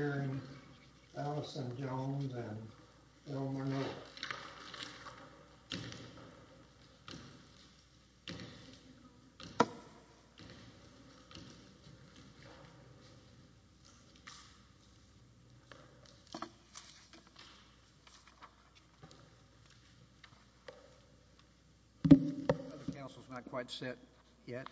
and Allison Jones and Bill Murnau. The Council's not quite set yet.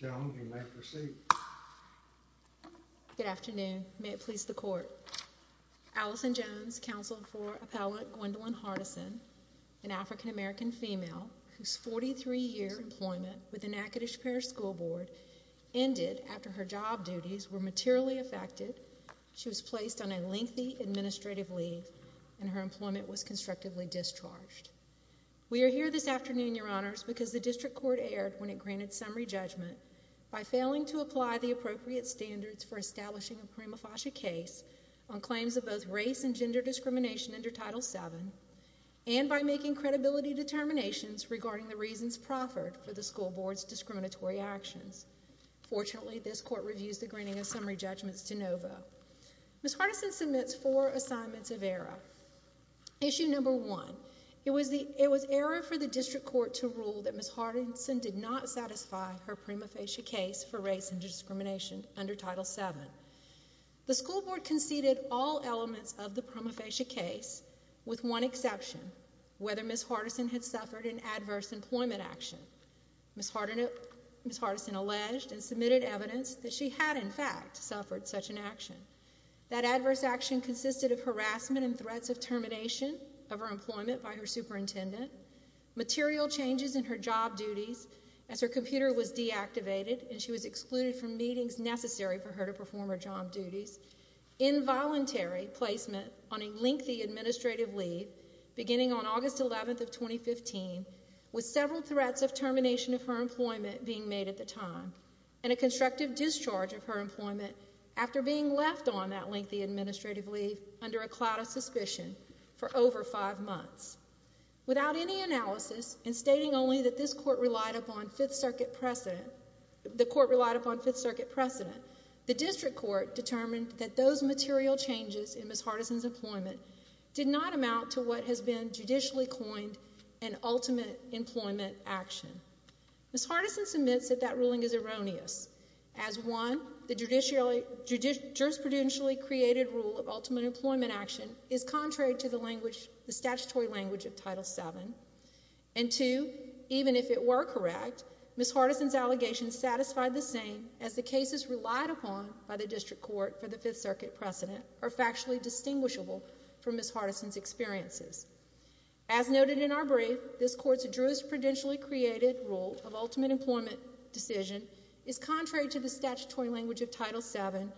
Ms. Jones, you may proceed. Good afternoon. May it please the Court. Allison Jones, Counsel for Appellant Gwendolyn Hardison, an African-American female whose 43-year employment with the Natchitoches Parish School Board ended after her job duties were materially affected. She was placed on a lengthy administrative leave and her employment was constructively discharged. We are here this afternoon, Your Honors, because the District Court erred when it granted summary judgment by failing to apply the appropriate standards for establishing a prima facie case on claims of both race and gender discrimination under Title VII and by making credibility determinations regarding the reasons proffered for the school board's discriminatory actions. Fortunately, this Court reviews the granting of summary judgments de novo. Ms. Hardison submits four assignments of error. Issue number one, it was error for the District Court to rule that Ms. Hardison did not satisfy her prima facie case for race and discrimination under Title VII. The school board conceded all elements of the prima facie case, with one exception, whether Ms. Hardison had suffered an adverse employment action. Ms. Hardison alleged and submitted evidence that she had, in fact, suffered such an action. That adverse action consisted of harassment and threats of termination of her employment by her superintendent, material changes in her job duties as her computer was deactivated and she was excluded from meetings necessary for her to perform her job duties, involuntary placement on a lengthy administrative leave beginning on August 11th of 2015, with several threats of termination of her employment being made at the time, and a constructive discharge of her employment after being left on that lengthy administrative leave under a cloud of suspicion for over five months. Without any analysis, and stating only that this Court relied upon Fifth Circuit precedent, the Court relied upon Fifth Circuit precedent, the District Court determined that those material changes in Ms. Hardison's employment did not amount to what has been judicially coined an ultimate employment action. Ms. Hardison submits that that ruling is erroneous, as one, the jurisprudentially created rule of ultimate employment action is contrary to the statutory language of Title VII, and two, even if it were correct, Ms. Hardison's allegations satisfied the same as the cases relied upon by the District Court for the Fifth Circuit precedent are factually distinguishable from Ms. Hardison's experiences. As noted in our brief, this Court's jurisprudentially created rule of ultimate employment decision is contrary to the statutory language of Title VII,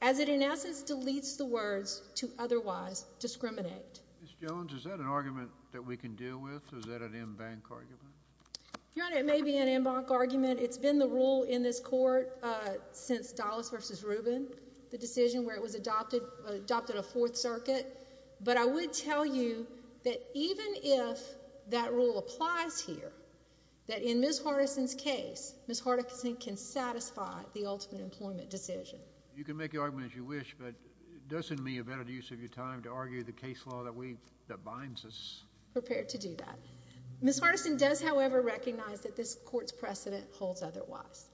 as it in essence deletes the words to otherwise discriminate. Ms. Jones, is that an argument that we can deal with? Is that an en banc argument? Your Honor, it may be an en banc argument. It's been the rule in this Court since Dulles v. Rubin, the decision where it was adopted, adopted of Fourth Circuit, but I would tell you that even if that rule applies here, that in Ms. Hardison's case, Ms. Hardison can satisfy the ultimate employment decision. You can make your argument as you wish, but doesn't it mean a better use of your time to argue the case law that binds us? Prepare to do that. Ms. Hardison does, however, recognize that this Court's precedent holds otherwise,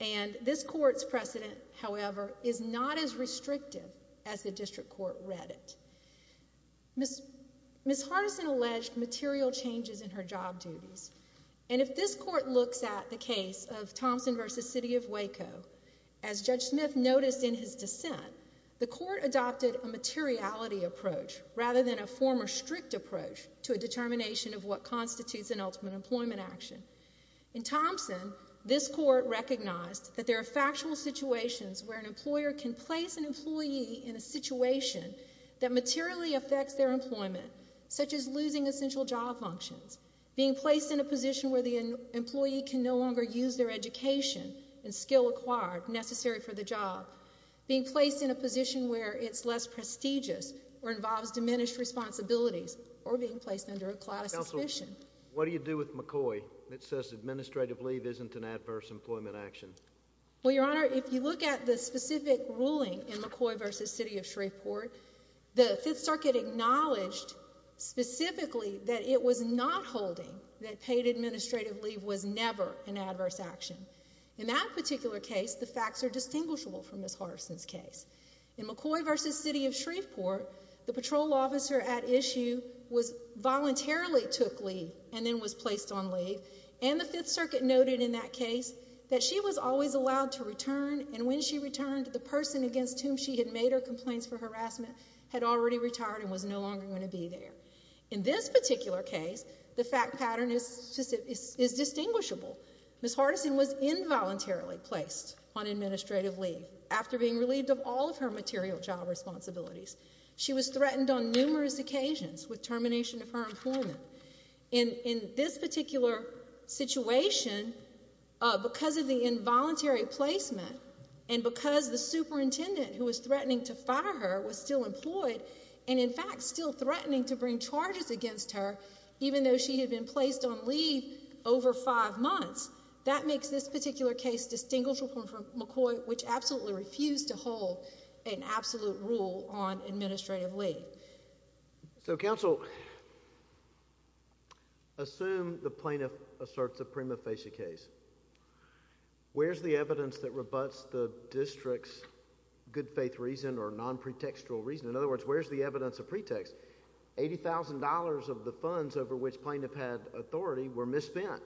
and this Court's precedent, however, is not as restrictive as the District Court read it. Ms. Hardison alleged material changes in her job duties, and if this Court looks at the case of Thompson v. City of Waco, as Judge Smith noticed in his dissent, the Court adopted a materiality approach rather than a former strict approach to a determination of what constitutes an ultimate employment action. In Thompson, this Court recognized that there are factual situations where an employer can place an employee in a situation that materially affects their employment, such as losing essential job functions, being placed in a position where the employee can no longer use their education and skill acquired necessary for the job, being placed in a position where it's less prestigious or involves diminished responsibilities, or being placed under a cloud of suspicion. Counsel, what do you do with McCoy that says administrative leave isn't an adverse employment action? Well, Your Honor, if you look at the specific ruling in McCoy v. City of Shreveport, the Fifth Circuit acknowledged specifically that it was not holding that paid administrative leave was never an adverse action. In that particular case, the facts are distinguishable from Ms. Hardison's case. In McCoy v. City of Shreveport, the patrol officer at issue voluntarily took leave and then was placed on leave, and the Fifth Circuit noted in that case that she was always allowed to return, and when she returned, the person against whom she had made her complaints for harassment had already retired and was no longer going to be there. In this particular case, the fact pattern is distinguishable. Ms. Hardison was involuntarily placed on administrative leave after being relieved of all of her material job responsibilities. She was threatened on numerous occasions with termination of her employment. In this particular situation, because of the involuntary placement and because the superintendent who was threatening to fire her was still employed and, in fact, still threatening to bring charges against her, even though she had been placed on leave over five months, that makes this particular case distinguishable from McCoy, which absolutely refused to hold an absolute rule on administrative leave. So, counsel, assume the plaintiff asserts a prima facie case. Where's the evidence that rebuts the district's good-faith reason or non-pretextual reason? In other words, where's the evidence of pretext? $80,000 of the funds over which plaintiff had authority were misspent,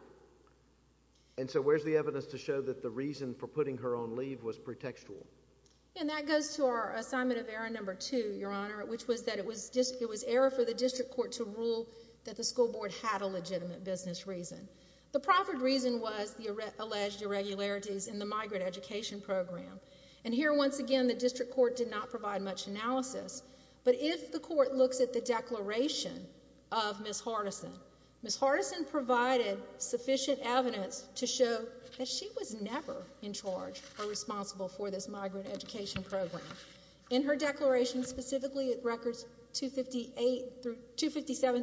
and so where's the evidence to show that the reason for putting her on leave was pretextual? And that goes to our assignment of error number two, Your Honor, which was that it was error for the district court to rule that the school board had a legitimate business reason. The proffered reason was the alleged irregularities in the migrant education program. And here, once again, the district court did not provide much analysis, but if the court looks at the declaration of Ms. Hardison, Ms. Hardison provided sufficient evidence to show that she was never in charge or responsible for this migrant education program. In her declaration, specifically at records 257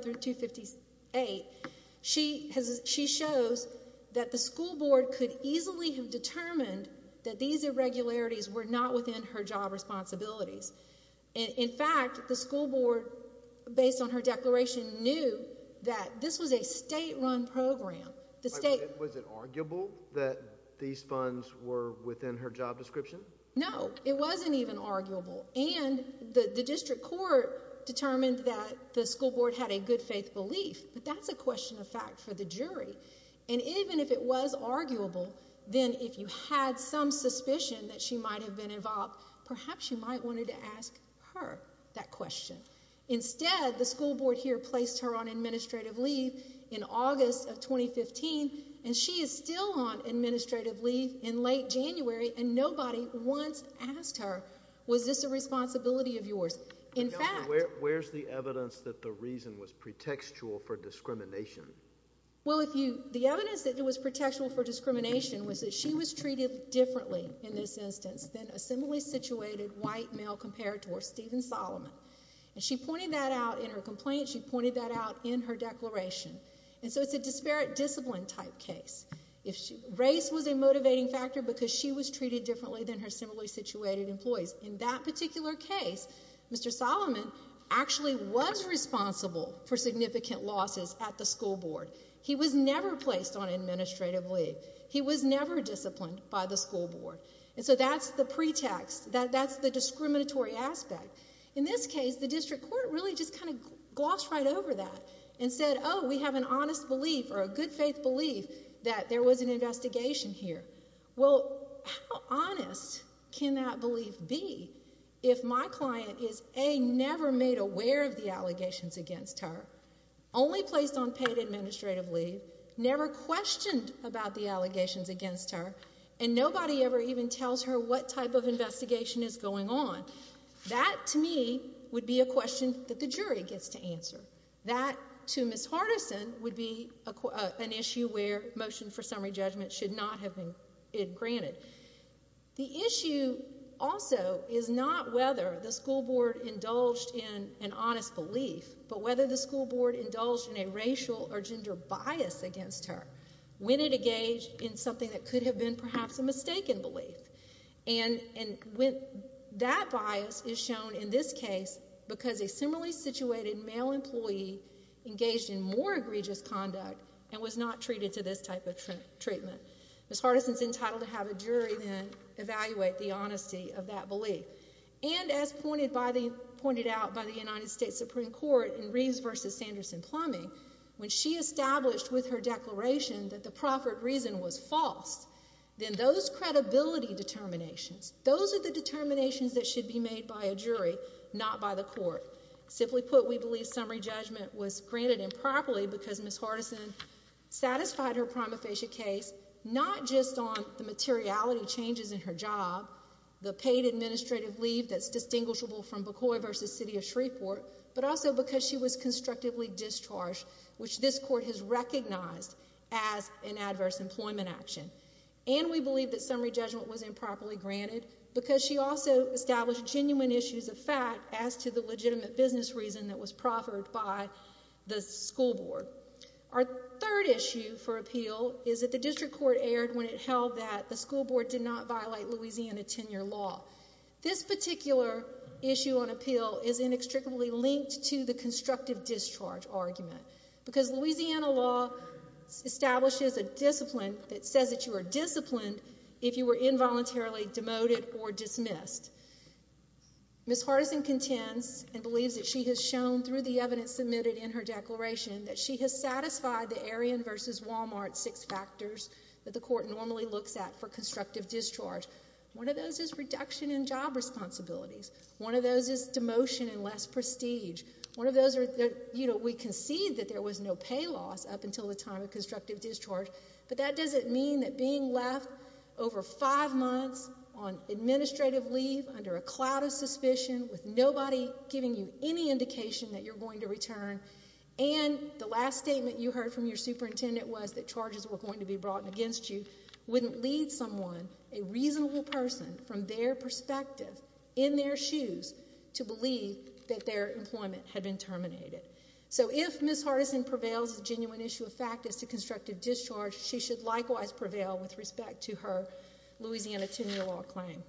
through 258, she shows that the school board could easily have determined that these irregularities were not within her job responsibilities. In fact, the school board, based on her declaration, knew that this was a state-run program. Was it arguable that these funds were within her job description? No, it wasn't even arguable. And the district court determined that the school board had a good-faith belief, but that's a question of fact for the jury. And even if it was arguable, then if you had some suspicion that she might have been involved, perhaps you might want to ask her that question. Instead, the school board here placed her on administrative leave in August of 2015, and she is still on administrative leave in late January, and nobody once asked her, was this a responsibility of yours? In fact— Where's the evidence that the reason was pretextual for discrimination? Well, the evidence that it was pretextual for discrimination was that she was treated differently in this instance than a similarly situated white male compared to her, Stephen Solomon. And she pointed that out in her complaint. She pointed that out in her declaration. And so it's a disparate discipline type case. Race was a motivating factor because she was treated differently than her similarly situated employees. In that particular case, Mr. Solomon actually was responsible for significant losses at the school board. He was never placed on administrative leave. He was never disciplined by the school board. And so that's the pretext. That's the discriminatory aspect. In this case, the district court really just kind of glossed right over that and said, oh, we have an honest belief or a good faith belief that there was an investigation here. Well, how honest can that belief be if my client is, A, never made aware of the allegations against her, only placed on paid administrative leave, never questioned about the allegations against her, and nobody ever even tells her what type of investigation is going on? That, to me, would be a question that the jury gets to answer. That, to Ms. Hardison, would be an issue where motion for summary judgment should not have been granted. The issue also is not whether the school board indulged in an honest belief, but whether the school board indulged in a racial or gender bias against her. When it engaged in something that could have been perhaps a mistaken belief. And that bias is shown in this case because a similarly situated male employee engaged in more egregious conduct and was not treated to this type of treatment. Ms. Hardison is entitled to have a jury then evaluate the honesty of that belief. And as pointed out by the United States Supreme Court in Reeves v. Sanderson-Plumbing, when she established with her declaration that the proffered reason was false, then those credibility determinations, those are the determinations that should be made by a jury, not by the court. Simply put, we believe summary judgment was granted improperly because Ms. Hardison satisfied her prima facie case not just on the materiality changes in her job, the paid administrative leave that's distinguishable from McCoy v. City of Shreveport, but also because she was constructively discharged, which this court has recognized as an adverse employment action. And we believe that summary judgment was improperly granted because she also established genuine issues of fact as to the legitimate business reason that was proffered by the school board. Our third issue for appeal is that the district court erred when it held that the school board did not violate Louisiana tenure law. This particular issue on appeal is inextricably linked to the constructive discharge argument because Louisiana law establishes a discipline that says that you are disciplined if you were involuntarily demoted or dismissed. Ms. Hardison contends and believes that she has shown through the evidence submitted in her declaration that she has satisfied the Arion v. Walmart six factors that the court normally looks at for constructive discharge. One of those is reduction in job responsibilities. One of those is demotion and less prestige. We concede that there was no pay loss up until the time of constructive discharge, but that doesn't mean that being left over five months on administrative leave under a cloud of suspicion with nobody giving you any indication that you're going to return and the last statement you heard from your superintendent was that charges were going to be brought against you wouldn't lead someone, a reasonable person, from their perspective in their shoes to believe that their employment had been terminated. So if Ms. Hardison prevails the genuine issue of fact is to constructive discharge, she should likewise prevail with respect to her Louisiana tenure law claim.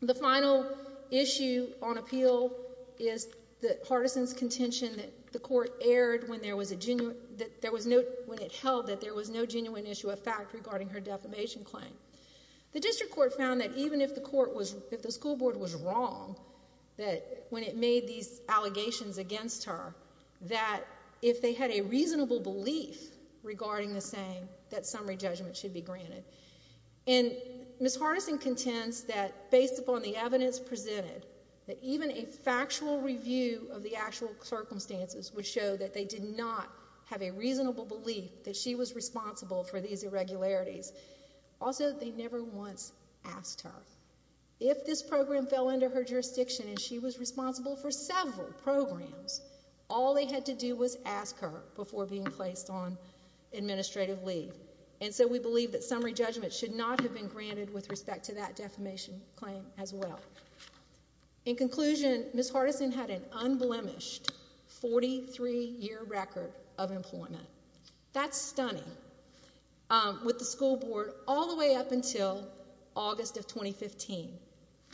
The final issue on appeal is that Hardison's contention that the court erred when there was a genuine, when it held that there was no genuine issue of fact regarding her defamation claim. The district court found that even if the school board was wrong when it made these allegations against her, that if they had a reasonable belief regarding the saying, that summary judgment should be granted. And Ms. Hardison contends that based upon the evidence presented, that even a factual review of the actual circumstances would show that they did not have a reasonable belief that she was responsible for these irregularities. Also, they never once asked her. If this program fell under her jurisdiction and she was responsible for several programs, all they had to do was ask her before being placed on administrative leave. And so we believe that summary judgment should not have been granted with respect to that defamation claim as well. In conclusion, Ms. Hardison had an unblemished 43-year record of employment. That's stunning. With the school board all the way up until August of 2015.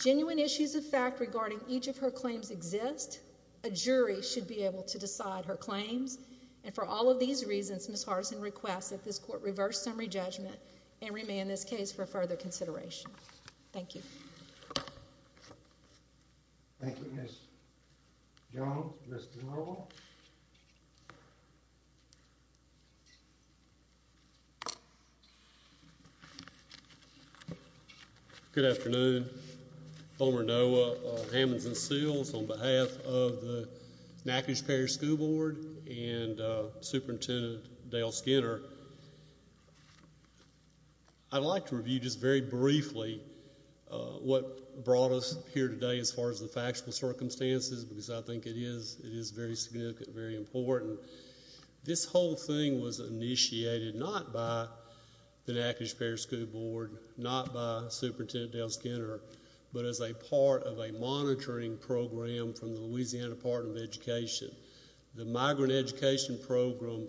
Genuine issues of fact regarding each of her claims exist. A jury should be able to decide her claims. And for all of these reasons, Ms. Hardison requests that this court reverse summary judgment and remand this case for further consideration. Thank you. Thank you, Ms. Jones. Mr. Norwell. Good afternoon. Homer Noah of Hammonds and Seals on behalf of the Natchez Parish School Board and Superintendent Dale Skinner. I'd like to review just very briefly what brought us here today as far as the factual circumstances because I think it is very significant, very important. This whole thing was initiated not by the Natchez Parish School Board, not by Superintendent Dale Skinner, but as a part of a monitoring program from the Louisiana Department of Education. The migrant education program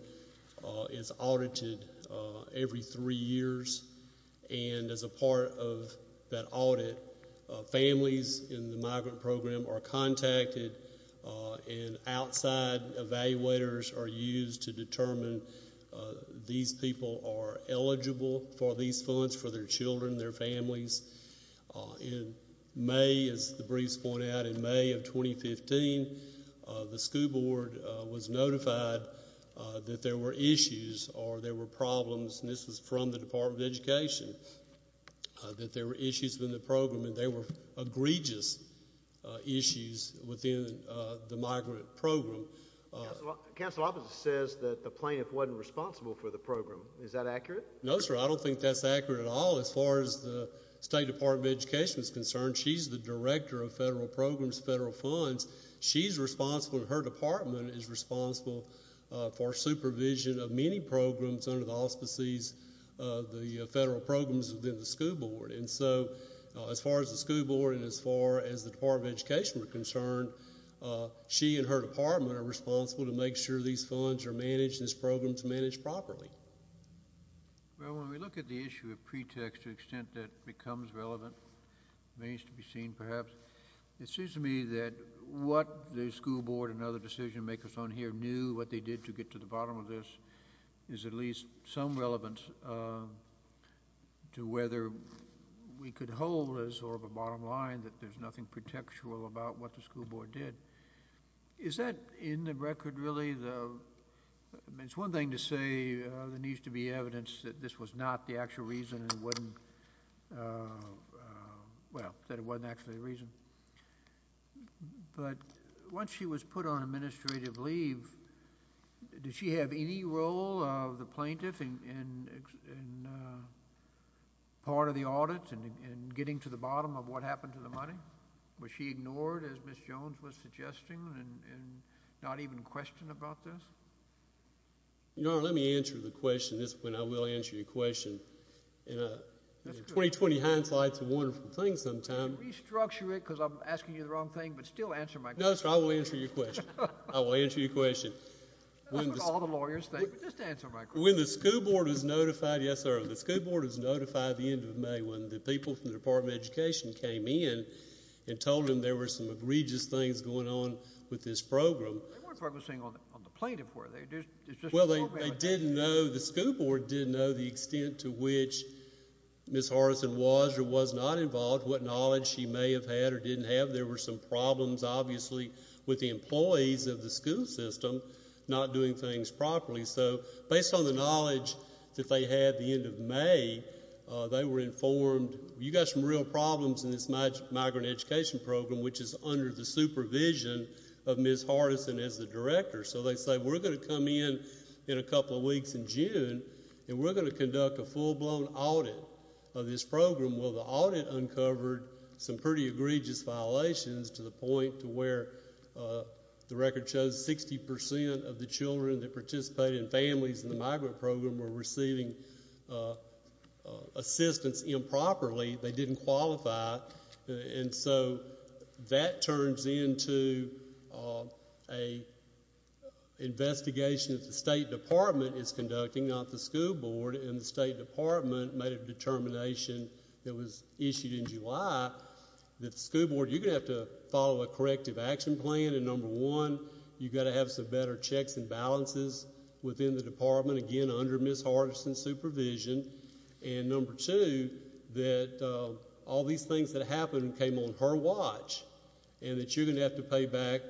is audited every three years. And as a part of that audit, families in the migrant program are contacted and outside evaluators are used to determine these people are eligible for these funds, for their children, their families. In May, as the briefs point out, in May of 2015, the school board was notified that there were issues or there were problems, and this was from the Department of Education, that there were issues with the program and they were egregious issues within the migrant program. Counsel opposite says that the plaintiff wasn't responsible for the program. Is that accurate? No, sir. I don't think that's accurate at all. As far as the State Department of Education is concerned, she's the director of federal programs, federal funds. She's responsible, her department is responsible for supervision of many programs under the auspices of the federal programs within the school board. And so, as far as the school board and as far as the Department of Education are concerned, she and her department are responsible to make sure these funds are managed and this program is managed properly. Well, when we look at the issue of pretext to the extent that it becomes relevant, it needs to be seen perhaps. It seems to me that what the school board and other decision makers on here knew, what they did to get to the bottom of this, is at least some relevance to whether we could hold as sort of a bottom line that there's nothing pretextual about what the school board did. Is that in the record really? I mean, it's one thing to say there needs to be evidence that this was not the actual reason and wouldn't, well, that it wasn't actually the reason. But once she was put on administrative leave, did she have any role of the plaintiff in part of the audit and getting to the bottom of what happened to the money? Was she ignored, as Ms. Jones was suggesting, and not even questioned about this? You know, let me answer the question. This is when I will answer your question. In 20-20 hindsight, it's a wonderful thing sometimes. I'm going to restructure it because I'm asking you the wrong thing, but still answer my question. No, sir, I will answer your question. I will answer your question. That's what all the lawyers think, but just answer my question. When the school board was notified, yes, sir, the school board was notified at the end of May when the people from the Department of Education came in and told them there were some egregious things going on with this program. They weren't focusing on the plaintiff, were they? Well, they didn't know, the school board didn't know the extent to which Ms. Hardison was or was not involved, what knowledge she may have had or didn't have. There were some problems, obviously, with the employees of the school system not doing things properly. So based on the knowledge that they had at the end of May, they were informed, you've got some real problems in this migrant education program, which is under the supervision of Ms. Hardison as the director. So they say, we're going to come in in a couple of weeks in June, and we're going to conduct a full-blown audit of this program. Well, the audit uncovered some pretty egregious violations to the point to where the record shows 60 percent of the children that participate in Families in the Migrant Program were receiving assistance improperly. They didn't qualify. And so that turns into an investigation that the State Department is conducting, not the school board. And the State Department made a determination that was issued in July that the school board, you're going to have to follow a corrective action plan. And number one, you've got to have some better checks and balances within the department, again, under Ms. Hardison's supervision. And number two, that all these things that happened came on her watch, and that you're going to have to pay back,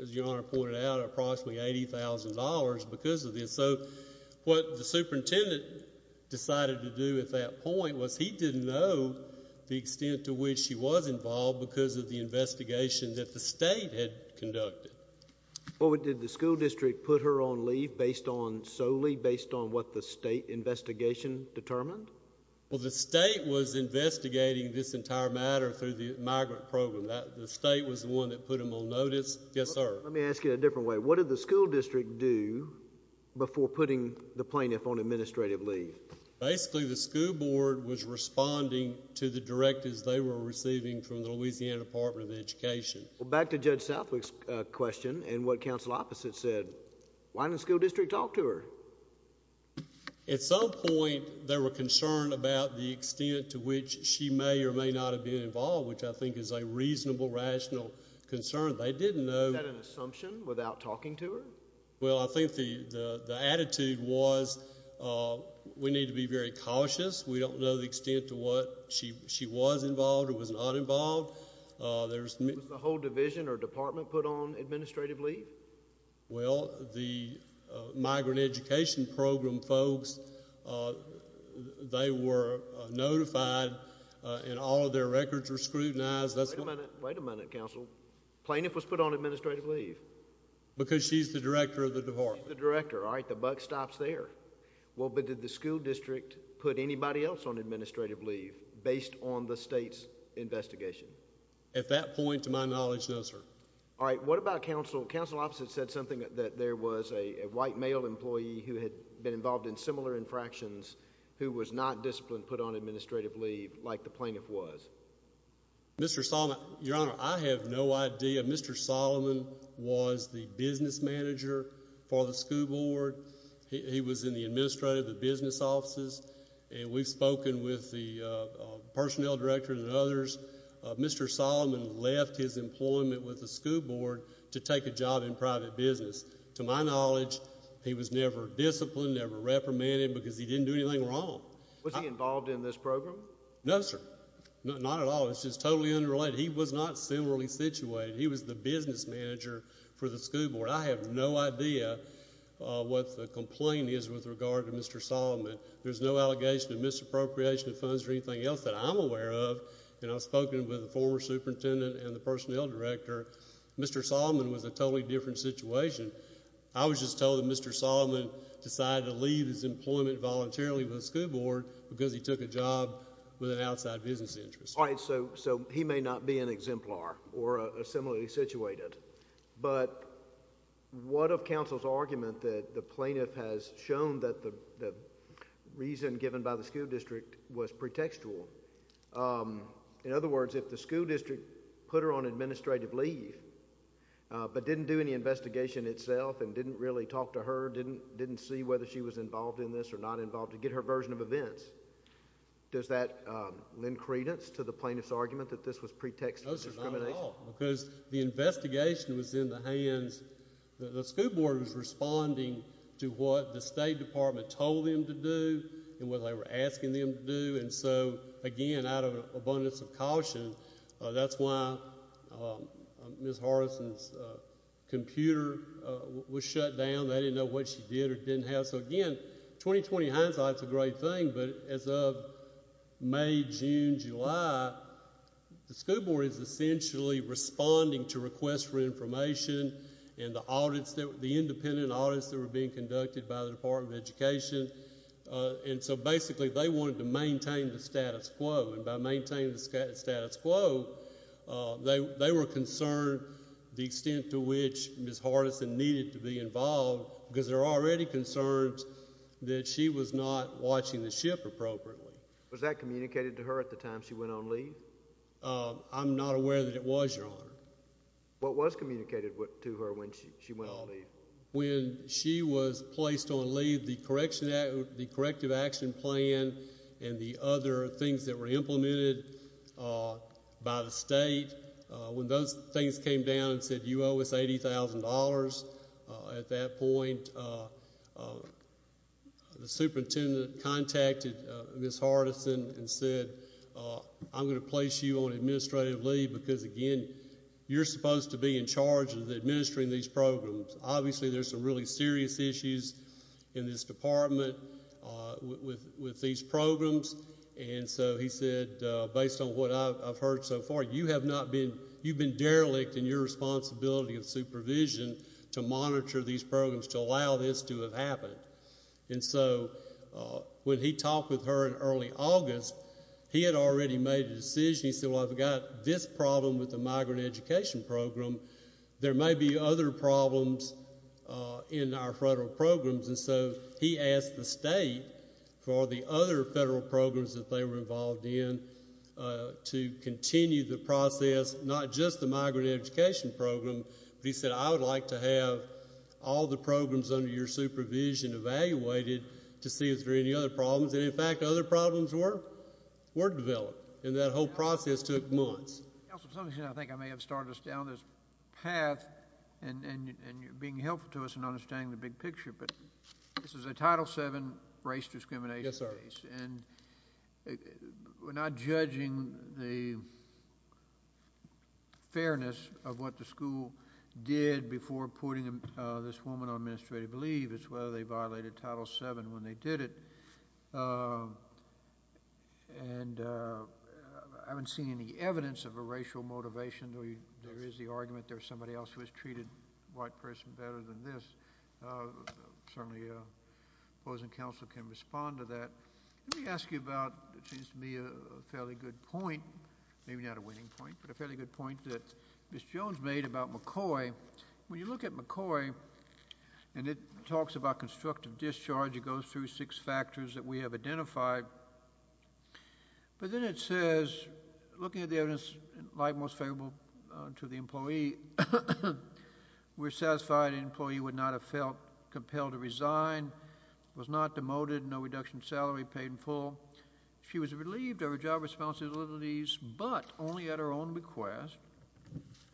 as Your Honor pointed out, approximately $80,000 because of this. So what the superintendent decided to do at that point was he didn't know the extent to which she was involved because of the investigation that the state had conducted. Well, did the school district put her on leave solely based on what the state investigation determined? Well, the state was investigating this entire matter through the migrant program. The state was the one that put them on notice. Yes, sir. Let me ask you a different way. What did the school district do before putting the plaintiff on administrative leave? Basically, the school board was responding to the directives they were receiving from the Louisiana Department of Education. Well, back to Judge Southwick's question and what counsel opposite said. Why didn't the school district talk to her? At some point, they were concerned about the extent to which she may or may not have been involved, which I think is a reasonable, rational concern. They didn't know. Was that an assumption without talking to her? Well, I think the attitude was we need to be very cautious. We don't know the extent to what she was involved or was not involved. Was the whole division or department put on administrative leave? Well, the migrant education program folks, they were notified, and all of their records were scrutinized. Wait a minute, counsel. Plaintiff was put on administrative leave? Because she's the director of the department. She's the director. All right. The buck stops there. Well, but did the school district put anybody else on administrative leave based on the state's investigation? At that point, to my knowledge, no, sir. All right. What about counsel? Counsel opposite said something that there was a white male employee who had been involved in similar infractions who was not disciplined put on administrative leave like the plaintiff was. Mr. Solomon, Your Honor, I have no idea. Mr. Solomon was the business manager for the school board. He was in the administrative, the business offices, and we've spoken with the personnel director and others. Mr. Solomon left his employment with the school board to take a job in private business. To my knowledge, he was never disciplined, never reprimanded because he didn't do anything wrong. Was he involved in this program? No, sir. Not at all. It's just totally unrelated. He was not similarly situated. He was the business manager for the school board. I have no idea what the complaint is with regard to Mr. Solomon. There's no allegation of misappropriation of funds or anything else that I'm aware of, and I've spoken with the former superintendent and the personnel director. Mr. Solomon was a totally different situation. I was just told that Mr. Solomon decided to leave his employment voluntarily with the school board because he took a job with an outside business interest. All right. So he may not be an exemplar or similarly situated. But what of counsel's argument that the plaintiff has shown that the reason given by the school district was pretextual? In other words, if the school district put her on administrative leave but didn't do any investigation itself and didn't really talk to her, didn't see whether she was involved in this or not involved, to get her version of events, does that lend credence to the plaintiff's argument that this was pretextual discrimination? No, sir. Not at all. Because the investigation was in the hands, the school board was responding to what the State Department told them to do and what they were asking them to do. And so, again, out of an abundance of caution, that's why Ms. Harrison's computer was shut down. They didn't know what she did or didn't have. So, again, 20-20 hindsight is a great thing. But as of May, June, July, the school board is essentially responding to requests for information and the independent audits that were being conducted by the Department of Education. And so, basically, they wanted to maintain the status quo. And by maintaining the status quo, they were concerned the extent to which Ms. Harrison needed to be involved because there were already concerns that she was not watching the ship appropriately. Was that communicated to her at the time she went on leave? I'm not aware that it was, Your Honor. What was communicated to her when she went on leave? When she was placed on leave, the corrective action plan and the other things that were implemented by the State, when those things came down and said you owe us $80,000 at that point, the superintendent contacted Ms. Harrison and said, I'm going to place you on administrative leave because, again, you're supposed to be in charge of administering these programs. Obviously, there's some really serious issues in this department with these programs. And so he said, based on what I've heard so far, you have been derelict in your responsibility of supervision to monitor these programs, to allow this to have happened. And so when he talked with her in early August, he had already made a decision. He said, well, I've got this problem with the migrant education program. There may be other problems in our federal programs. And so he asked the State for the other federal programs that they were involved in to continue the process, not just the migrant education program, but he said, I would like to have all the programs under your supervision evaluated to see if there are any other problems. And, in fact, other problems were developed. And that whole process took months. I think I may have started us down this path, and you're being helpful to us in understanding the big picture, but this is a Title VII race discrimination case. Yes, sir. And we're not judging the fairness of what the school did before putting this woman on administrative leave. It's whether they violated Title VII when they did it. And I haven't seen any evidence of a racial motivation. There is the argument there's somebody else who has treated the white person better than this. Certainly, opposing counsel can respond to that. Let me ask you about what seems to me a fairly good point, maybe not a winning point, but a fairly good point that Ms. Jones made about McCoy. When you look at McCoy, and it talks about constructive discharge, it goes through six factors that we have identified. But then it says, looking at the evidence, like most favorable to the employee, we're satisfied an employee would not have felt compelled to resign, was not demoted, no reduction in salary paid in full. She was relieved of her job responsibilities, but only at her own request.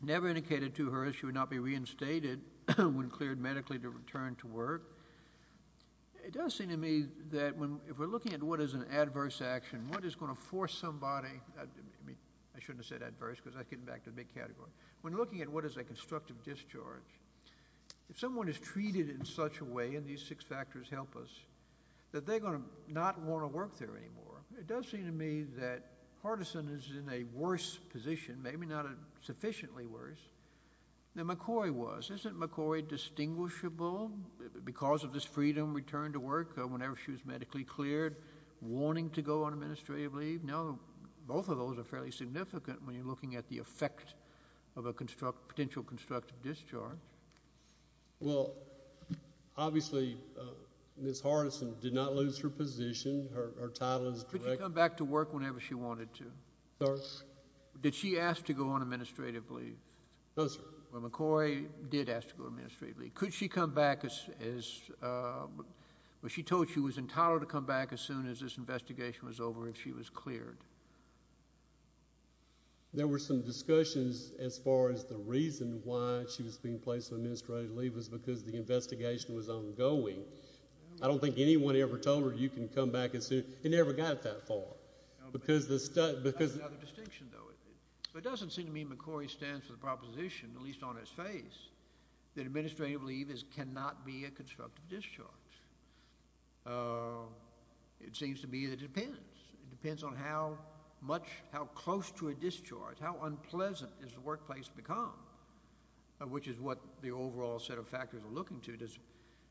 Never indicated to her she would not be reinstated when cleared medically to return to work. It does seem to me that if we're looking at what is an adverse action, what is going to force somebody, I shouldn't have said adverse because I'm getting back to the big category. When looking at what is a constructive discharge, if someone is treated in such a way, and these six factors help us, that they're going to not want to work there anymore. It does seem to me that Hardison is in a worse position, maybe not sufficiently worse than McCoy was. Isn't McCoy distinguishable because of this freedom to return to work whenever she was medically cleared, wanting to go on administrative leave? No, both of those are fairly significant when you're looking at the effect of a potential constructive discharge. Well, obviously, Ms. Hardison did not lose her position. Her title is direct— Could she come back to work whenever she wanted to? Sorry? Did she ask to go on administrative leave? No, sir. McCoy did ask to go on administrative leave. Could she come back as—was she told she was entitled to come back as soon as this investigation was over, if she was cleared? There were some discussions as far as the reason why she was being placed on administrative leave was because the investigation was ongoing. I don't think anyone ever told her, you can come back as soon—it never got that far. That's another distinction, though. It doesn't seem to me McCoy stands for the proposition, at least on its face, that administrative leave cannot be a constructive discharge. It seems to me that it depends. It depends on how much—how close to a discharge, how unpleasant has the workplace become, which is what the overall set of factors are looking to. The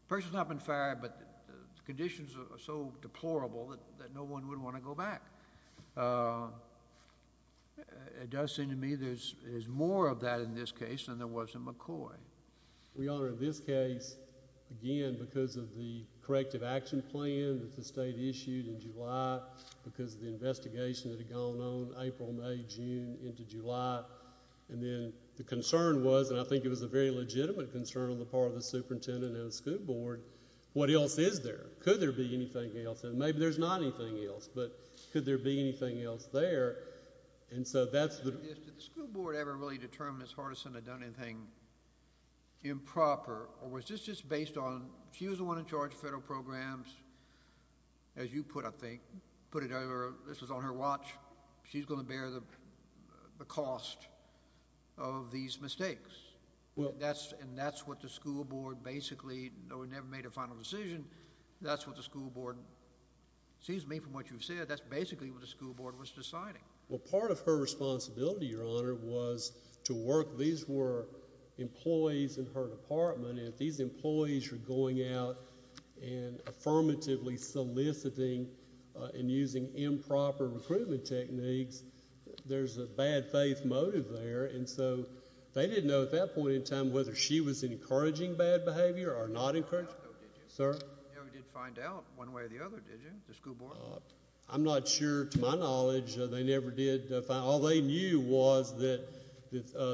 person's not been fired, but the conditions are so deplorable that no one would want to go back. It does seem to me there's more of that in this case than there was in McCoy. We honor this case, again, because of the corrective action plan that the state issued in July, because of the investigation that had gone on April, May, June, into July. And then the concern was, and I think it was a very legitimate concern on the part of the superintendent and the school board, what else is there? Could there be anything else? And maybe there's not anything else, but could there be anything else there? And so that's the— Did the school board ever really determine Ms. Hardison had done anything improper, or was this just based on—she was the one in charge of federal programs, as you put it, I think. Put it—this was on her watch. She's going to bear the cost of these mistakes. And that's what the school board basically—though we never made a final decision, that's what the school board—it seems to me from what you've said, that's basically what the school board was deciding. Well, part of her responsibility, Your Honor, was to work—these were employees in her department, and if these employees were going out and affirmatively soliciting and using improper recruitment techniques, there's a bad faith motive there. And so they didn't know at that point in time whether she was encouraging bad behavior or not encouraging it. You never found out, though, did you? Sir? You never did find out one way or the other, did you, the school board? I'm not sure. To my knowledge, they never did. All they knew was that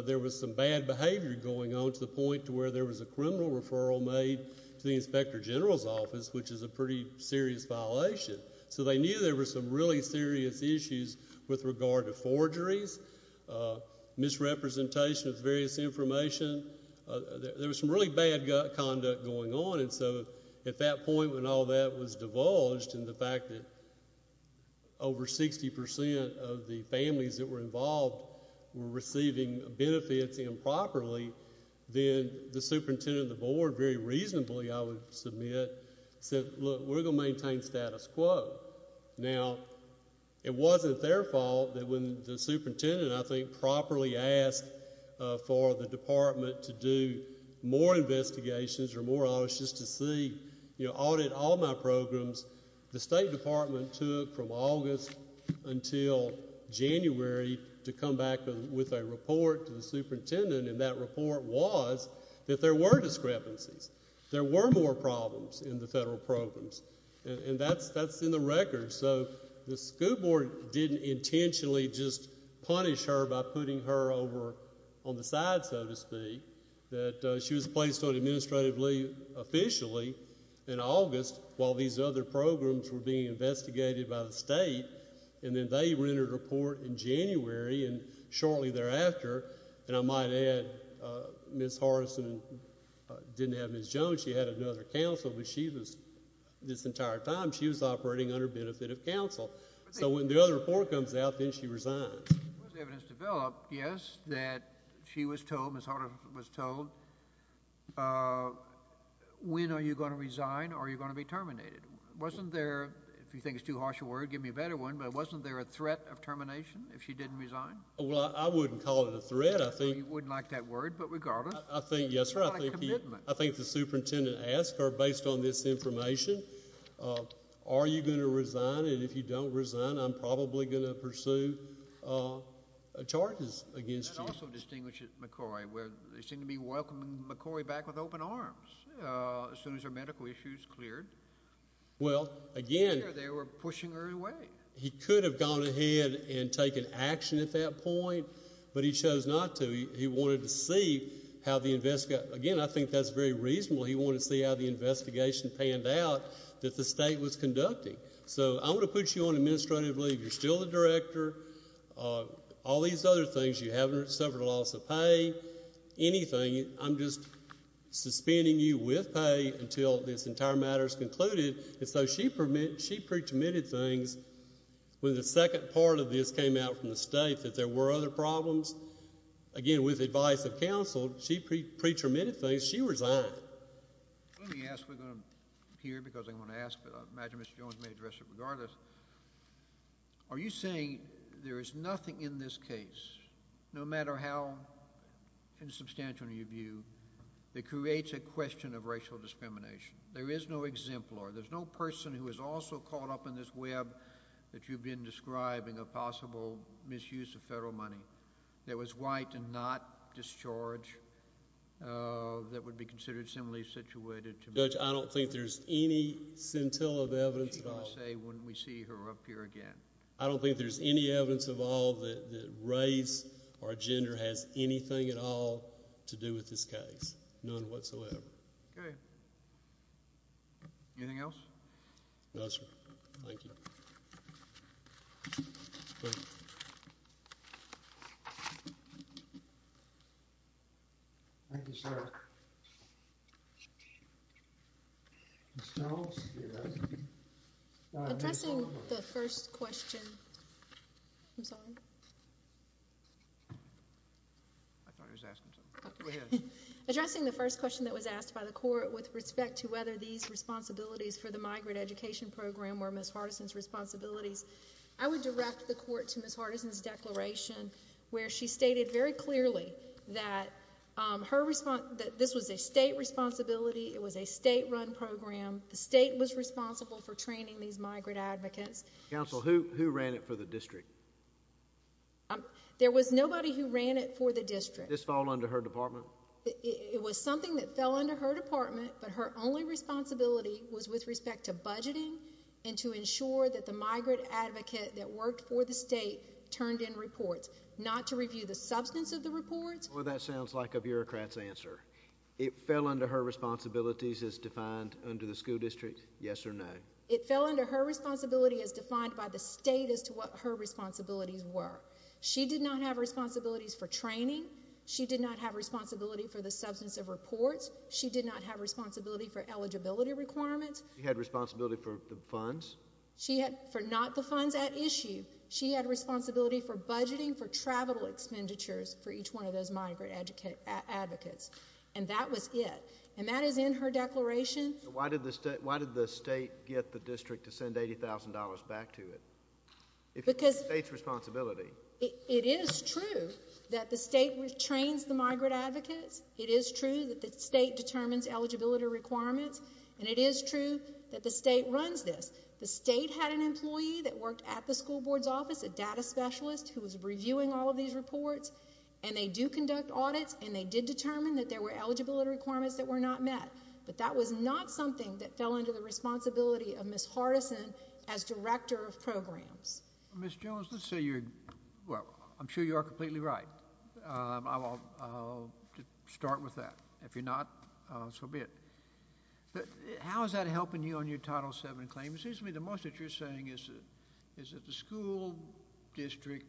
there was some bad behavior going on to the point to where there was a criminal referral made to the inspector general's office, which is a pretty serious violation. So they knew there were some really serious issues with regard to forgeries, misrepresentation of various information. There was some really bad conduct going on. And so at that point when all that was divulged and the fact that over 60% of the families that were involved were receiving benefits improperly, then the superintendent of the board very reasonably, I would submit, said, look, we're going to maintain status quo. Now, it wasn't their fault that when the superintendent, I think, properly asked for the department to do more investigations or more audits just to see, you know, audit all my programs, the State Department took from August until January to come back with a report to the superintendent, and that report was that there were discrepancies. There were more problems in the federal programs, and that's in the record. So the school board didn't intentionally just punish her by putting her over on the side, so to speak, that she was placed on administrative leave officially in August while these other programs were being investigated by the state, and then they rendered a report in January, and shortly thereafter, and I might add, Ms. Hortonson didn't have Ms. Jones. She had another counsel, but she was, this entire time, she was operating under benefit of counsel. So when the other report comes out, then she resigns. Once the evidence developed, yes, that she was told, Ms. Hortonson was told, when are you going to resign or are you going to be terminated? Wasn't there, if you think it's too harsh a word, give me a better one, but wasn't there a threat of termination if she didn't resign? Well, I wouldn't call it a threat. You wouldn't like that word, but regardless. I think, yes, sir, I think the superintendent asked her, based on this information, are you going to resign, and if you don't resign, I'm probably going to pursue charges against you. That also distinguishes McCoy. They seem to be welcoming McCoy back with open arms as soon as her medical issues cleared. Well, again. They were pushing her away. He could have gone ahead and taken action at that point, but he chose not to. He wanted to see how the, again, I think that's very reasonable. He wanted to see how the investigation panned out that the state was conducting. So I'm going to put you on administrative leave. You're still the director. All these other things, you haven't suffered a loss of pay, anything. I'm just suspending you with pay until this entire matter is concluded. And so she pre-terminated things when the second part of this came out from the state that there were other problems. Again, with the advice of counsel, she pre-terminated things. She resigned. Let me ask. We're going to hear because I'm going to ask, but I imagine Mr. Jones may address it regardless. Are you saying there is nothing in this case, no matter how insubstantial your view, that creates a question of racial discrimination? There is no exemplar. There's no person who is also caught up in this web that you've been describing a possible misuse of federal money that was white and not discharge that would be considered similarly situated to me. Judge, I don't think there's any scintilla of evidence at all. What are you going to say when we see her up here again? I don't think there's any evidence at all that race or gender has anything at all to do with this case, none whatsoever. Okay. Anything else? No, sir. Thank you. Thank you, sir. Ms. Jones? Yes. Addressing the first question. I'm sorry. I thought he was asking something. Go ahead. Addressing the first question that was asked by the court with respect to whether these responsibilities for the migrant education program were Ms. Hardison's responsibilities, I would direct the court to Ms. Hardison's declaration where she stated very clearly that this was a state responsibility. It was a state-run program. The state was responsible for training these migrant advocates. Counsel, who ran it for the district? There was nobody who ran it for the district. Did this fall under her department? It was something that fell under her department, but her only responsibility was with respect to budgeting and to ensure that the migrant advocate that worked for the state turned in reports, not to review the substance of the reports. Boy, that sounds like a bureaucrat's answer. It fell under her responsibilities as defined under the school district, yes or no? It fell under her responsibility as defined by the state as to what her responsibilities were. She did not have responsibilities for training. She did not have responsibility for the substance of reports. She did not have responsibility for eligibility requirements. She had responsibility for the funds? Not the funds at issue. She had responsibility for budgeting for travel expenditures for each one of those migrant advocates, and that was it. And that is in her declaration. Why did the state get the district to send $80,000 back to it? It's the state's responsibility. It is true that the state trains the migrant advocates. It is true that the state determines eligibility requirements, and it is true that the state runs this. The state had an employee that worked at the school board's office, a data specialist who was reviewing all of these reports, and they do conduct audits, and they did determine that there were eligibility requirements that were not met, but that was not something that fell under the responsibility of Ms. Hardison as director of programs. Ms. Jones, let's say you're – well, I'm sure you are completely right. I'll start with that. If you're not, so be it. How is that helping you on your Title VII claim? It seems to me the most that you're saying is that the school district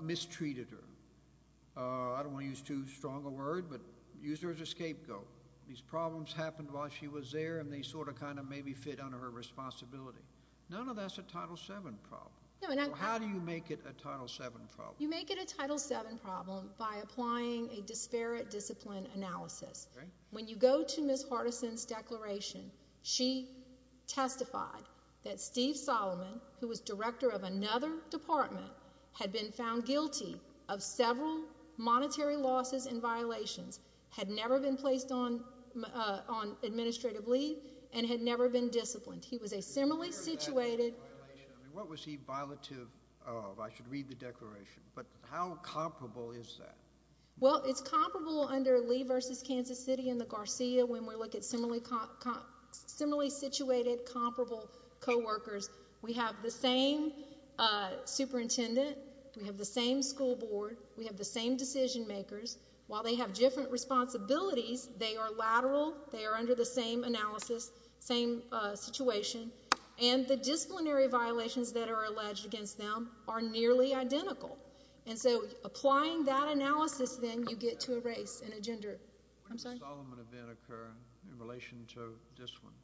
mistreated her. I don't want to use too strong a word, but used her as a scapegoat. These problems happened while she was there, and they sort of kind of maybe fit under her responsibility. None of that's a Title VII problem. How do you make it a Title VII problem? You make it a Title VII problem by applying a disparate discipline analysis. When you go to Ms. Hardison's declaration, she testified that Steve Solomon, who was director of another department, had been found guilty of several monetary losses and violations, had never been placed on administrative leave, and had never been disciplined. He was a similarly situated – What was he violative of? I should read the declaration, but how comparable is that? Well, it's comparable under Lee v. Kansas City and the Garcia when we look at similarly situated, comparable coworkers. We have the same superintendent. We have the same school board. We have the same decision makers. While they have different responsibilities, they are lateral. They are under the same analysis, same situation, and the disciplinary violations that are alleged against them are nearly identical. And so applying that analysis, then, you get to a race and a gender. I'm sorry? When did the Solomon event occur in relation to this one?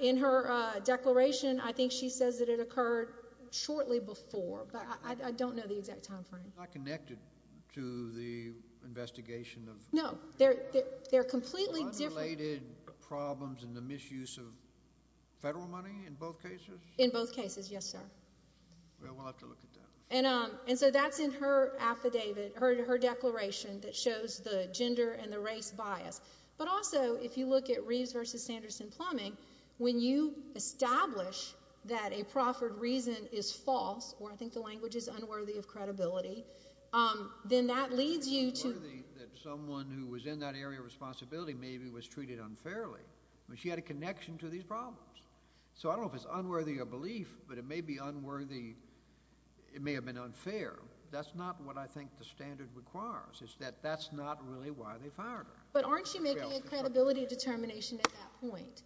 In her declaration, I think she says that it occurred shortly before, but I don't know the exact time frame. It's not connected to the investigation of – No, they're completely different. Unrelated problems in the misuse of federal money in both cases? In both cases, yes, sir. We'll have to look at that. And so that's in her affidavit, her declaration, that shows the gender and the race bias. But also, if you look at Reeves v. Sanderson-Plumbing, when you establish that a proffered reason is false, or I think the language is unworthy of credibility, then that leads you to – Unworthy that someone who was in that area of responsibility maybe was treated unfairly. She had a connection to these problems. So I don't know if it's unworthy of belief, but it may be unworthy. It may have been unfair. That's not what I think the standard requires, is that that's not really why they fired her. But aren't you making a credibility determination at that point?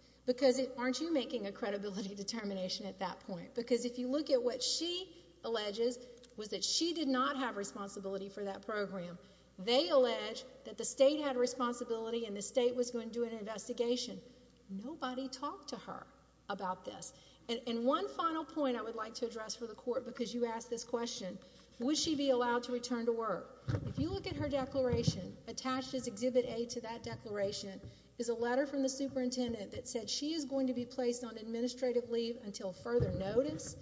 Aren't you making a credibility determination at that point? Because if you look at what she alleges, was that she did not have responsibility for that program. They allege that the state had responsibility and the state was going to do an investigation. Nobody talked to her about this. And one final point I would like to address for the Court, because you asked this question, would she be allowed to return to work? If you look at her declaration, attached is Exhibit A to that declaration is a letter from the superintendent that said she is going to be placed on administrative leave until further notice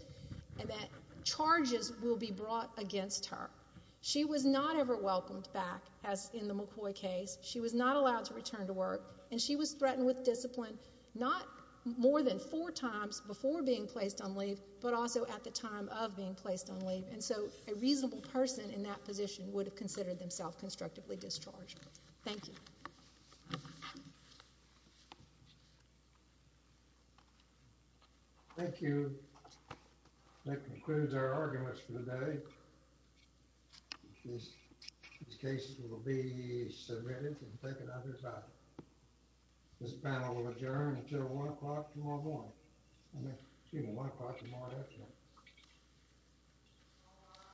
and that charges will be brought against her. She was not ever welcomed back, as in the McCoy case. She was not allowed to return to work, and she was threatened with discipline not more than four times before being placed on leave, but also at the time of being placed on leave. And so a reasonable person in that position would have considered themselves constructively discharged. Thank you. Thank you. That concludes our arguments for today. These cases will be submitted and taken up at this time. This panel will adjourn until 1 o'clock tomorrow morning. Excuse me, 1 o'clock tomorrow afternoon.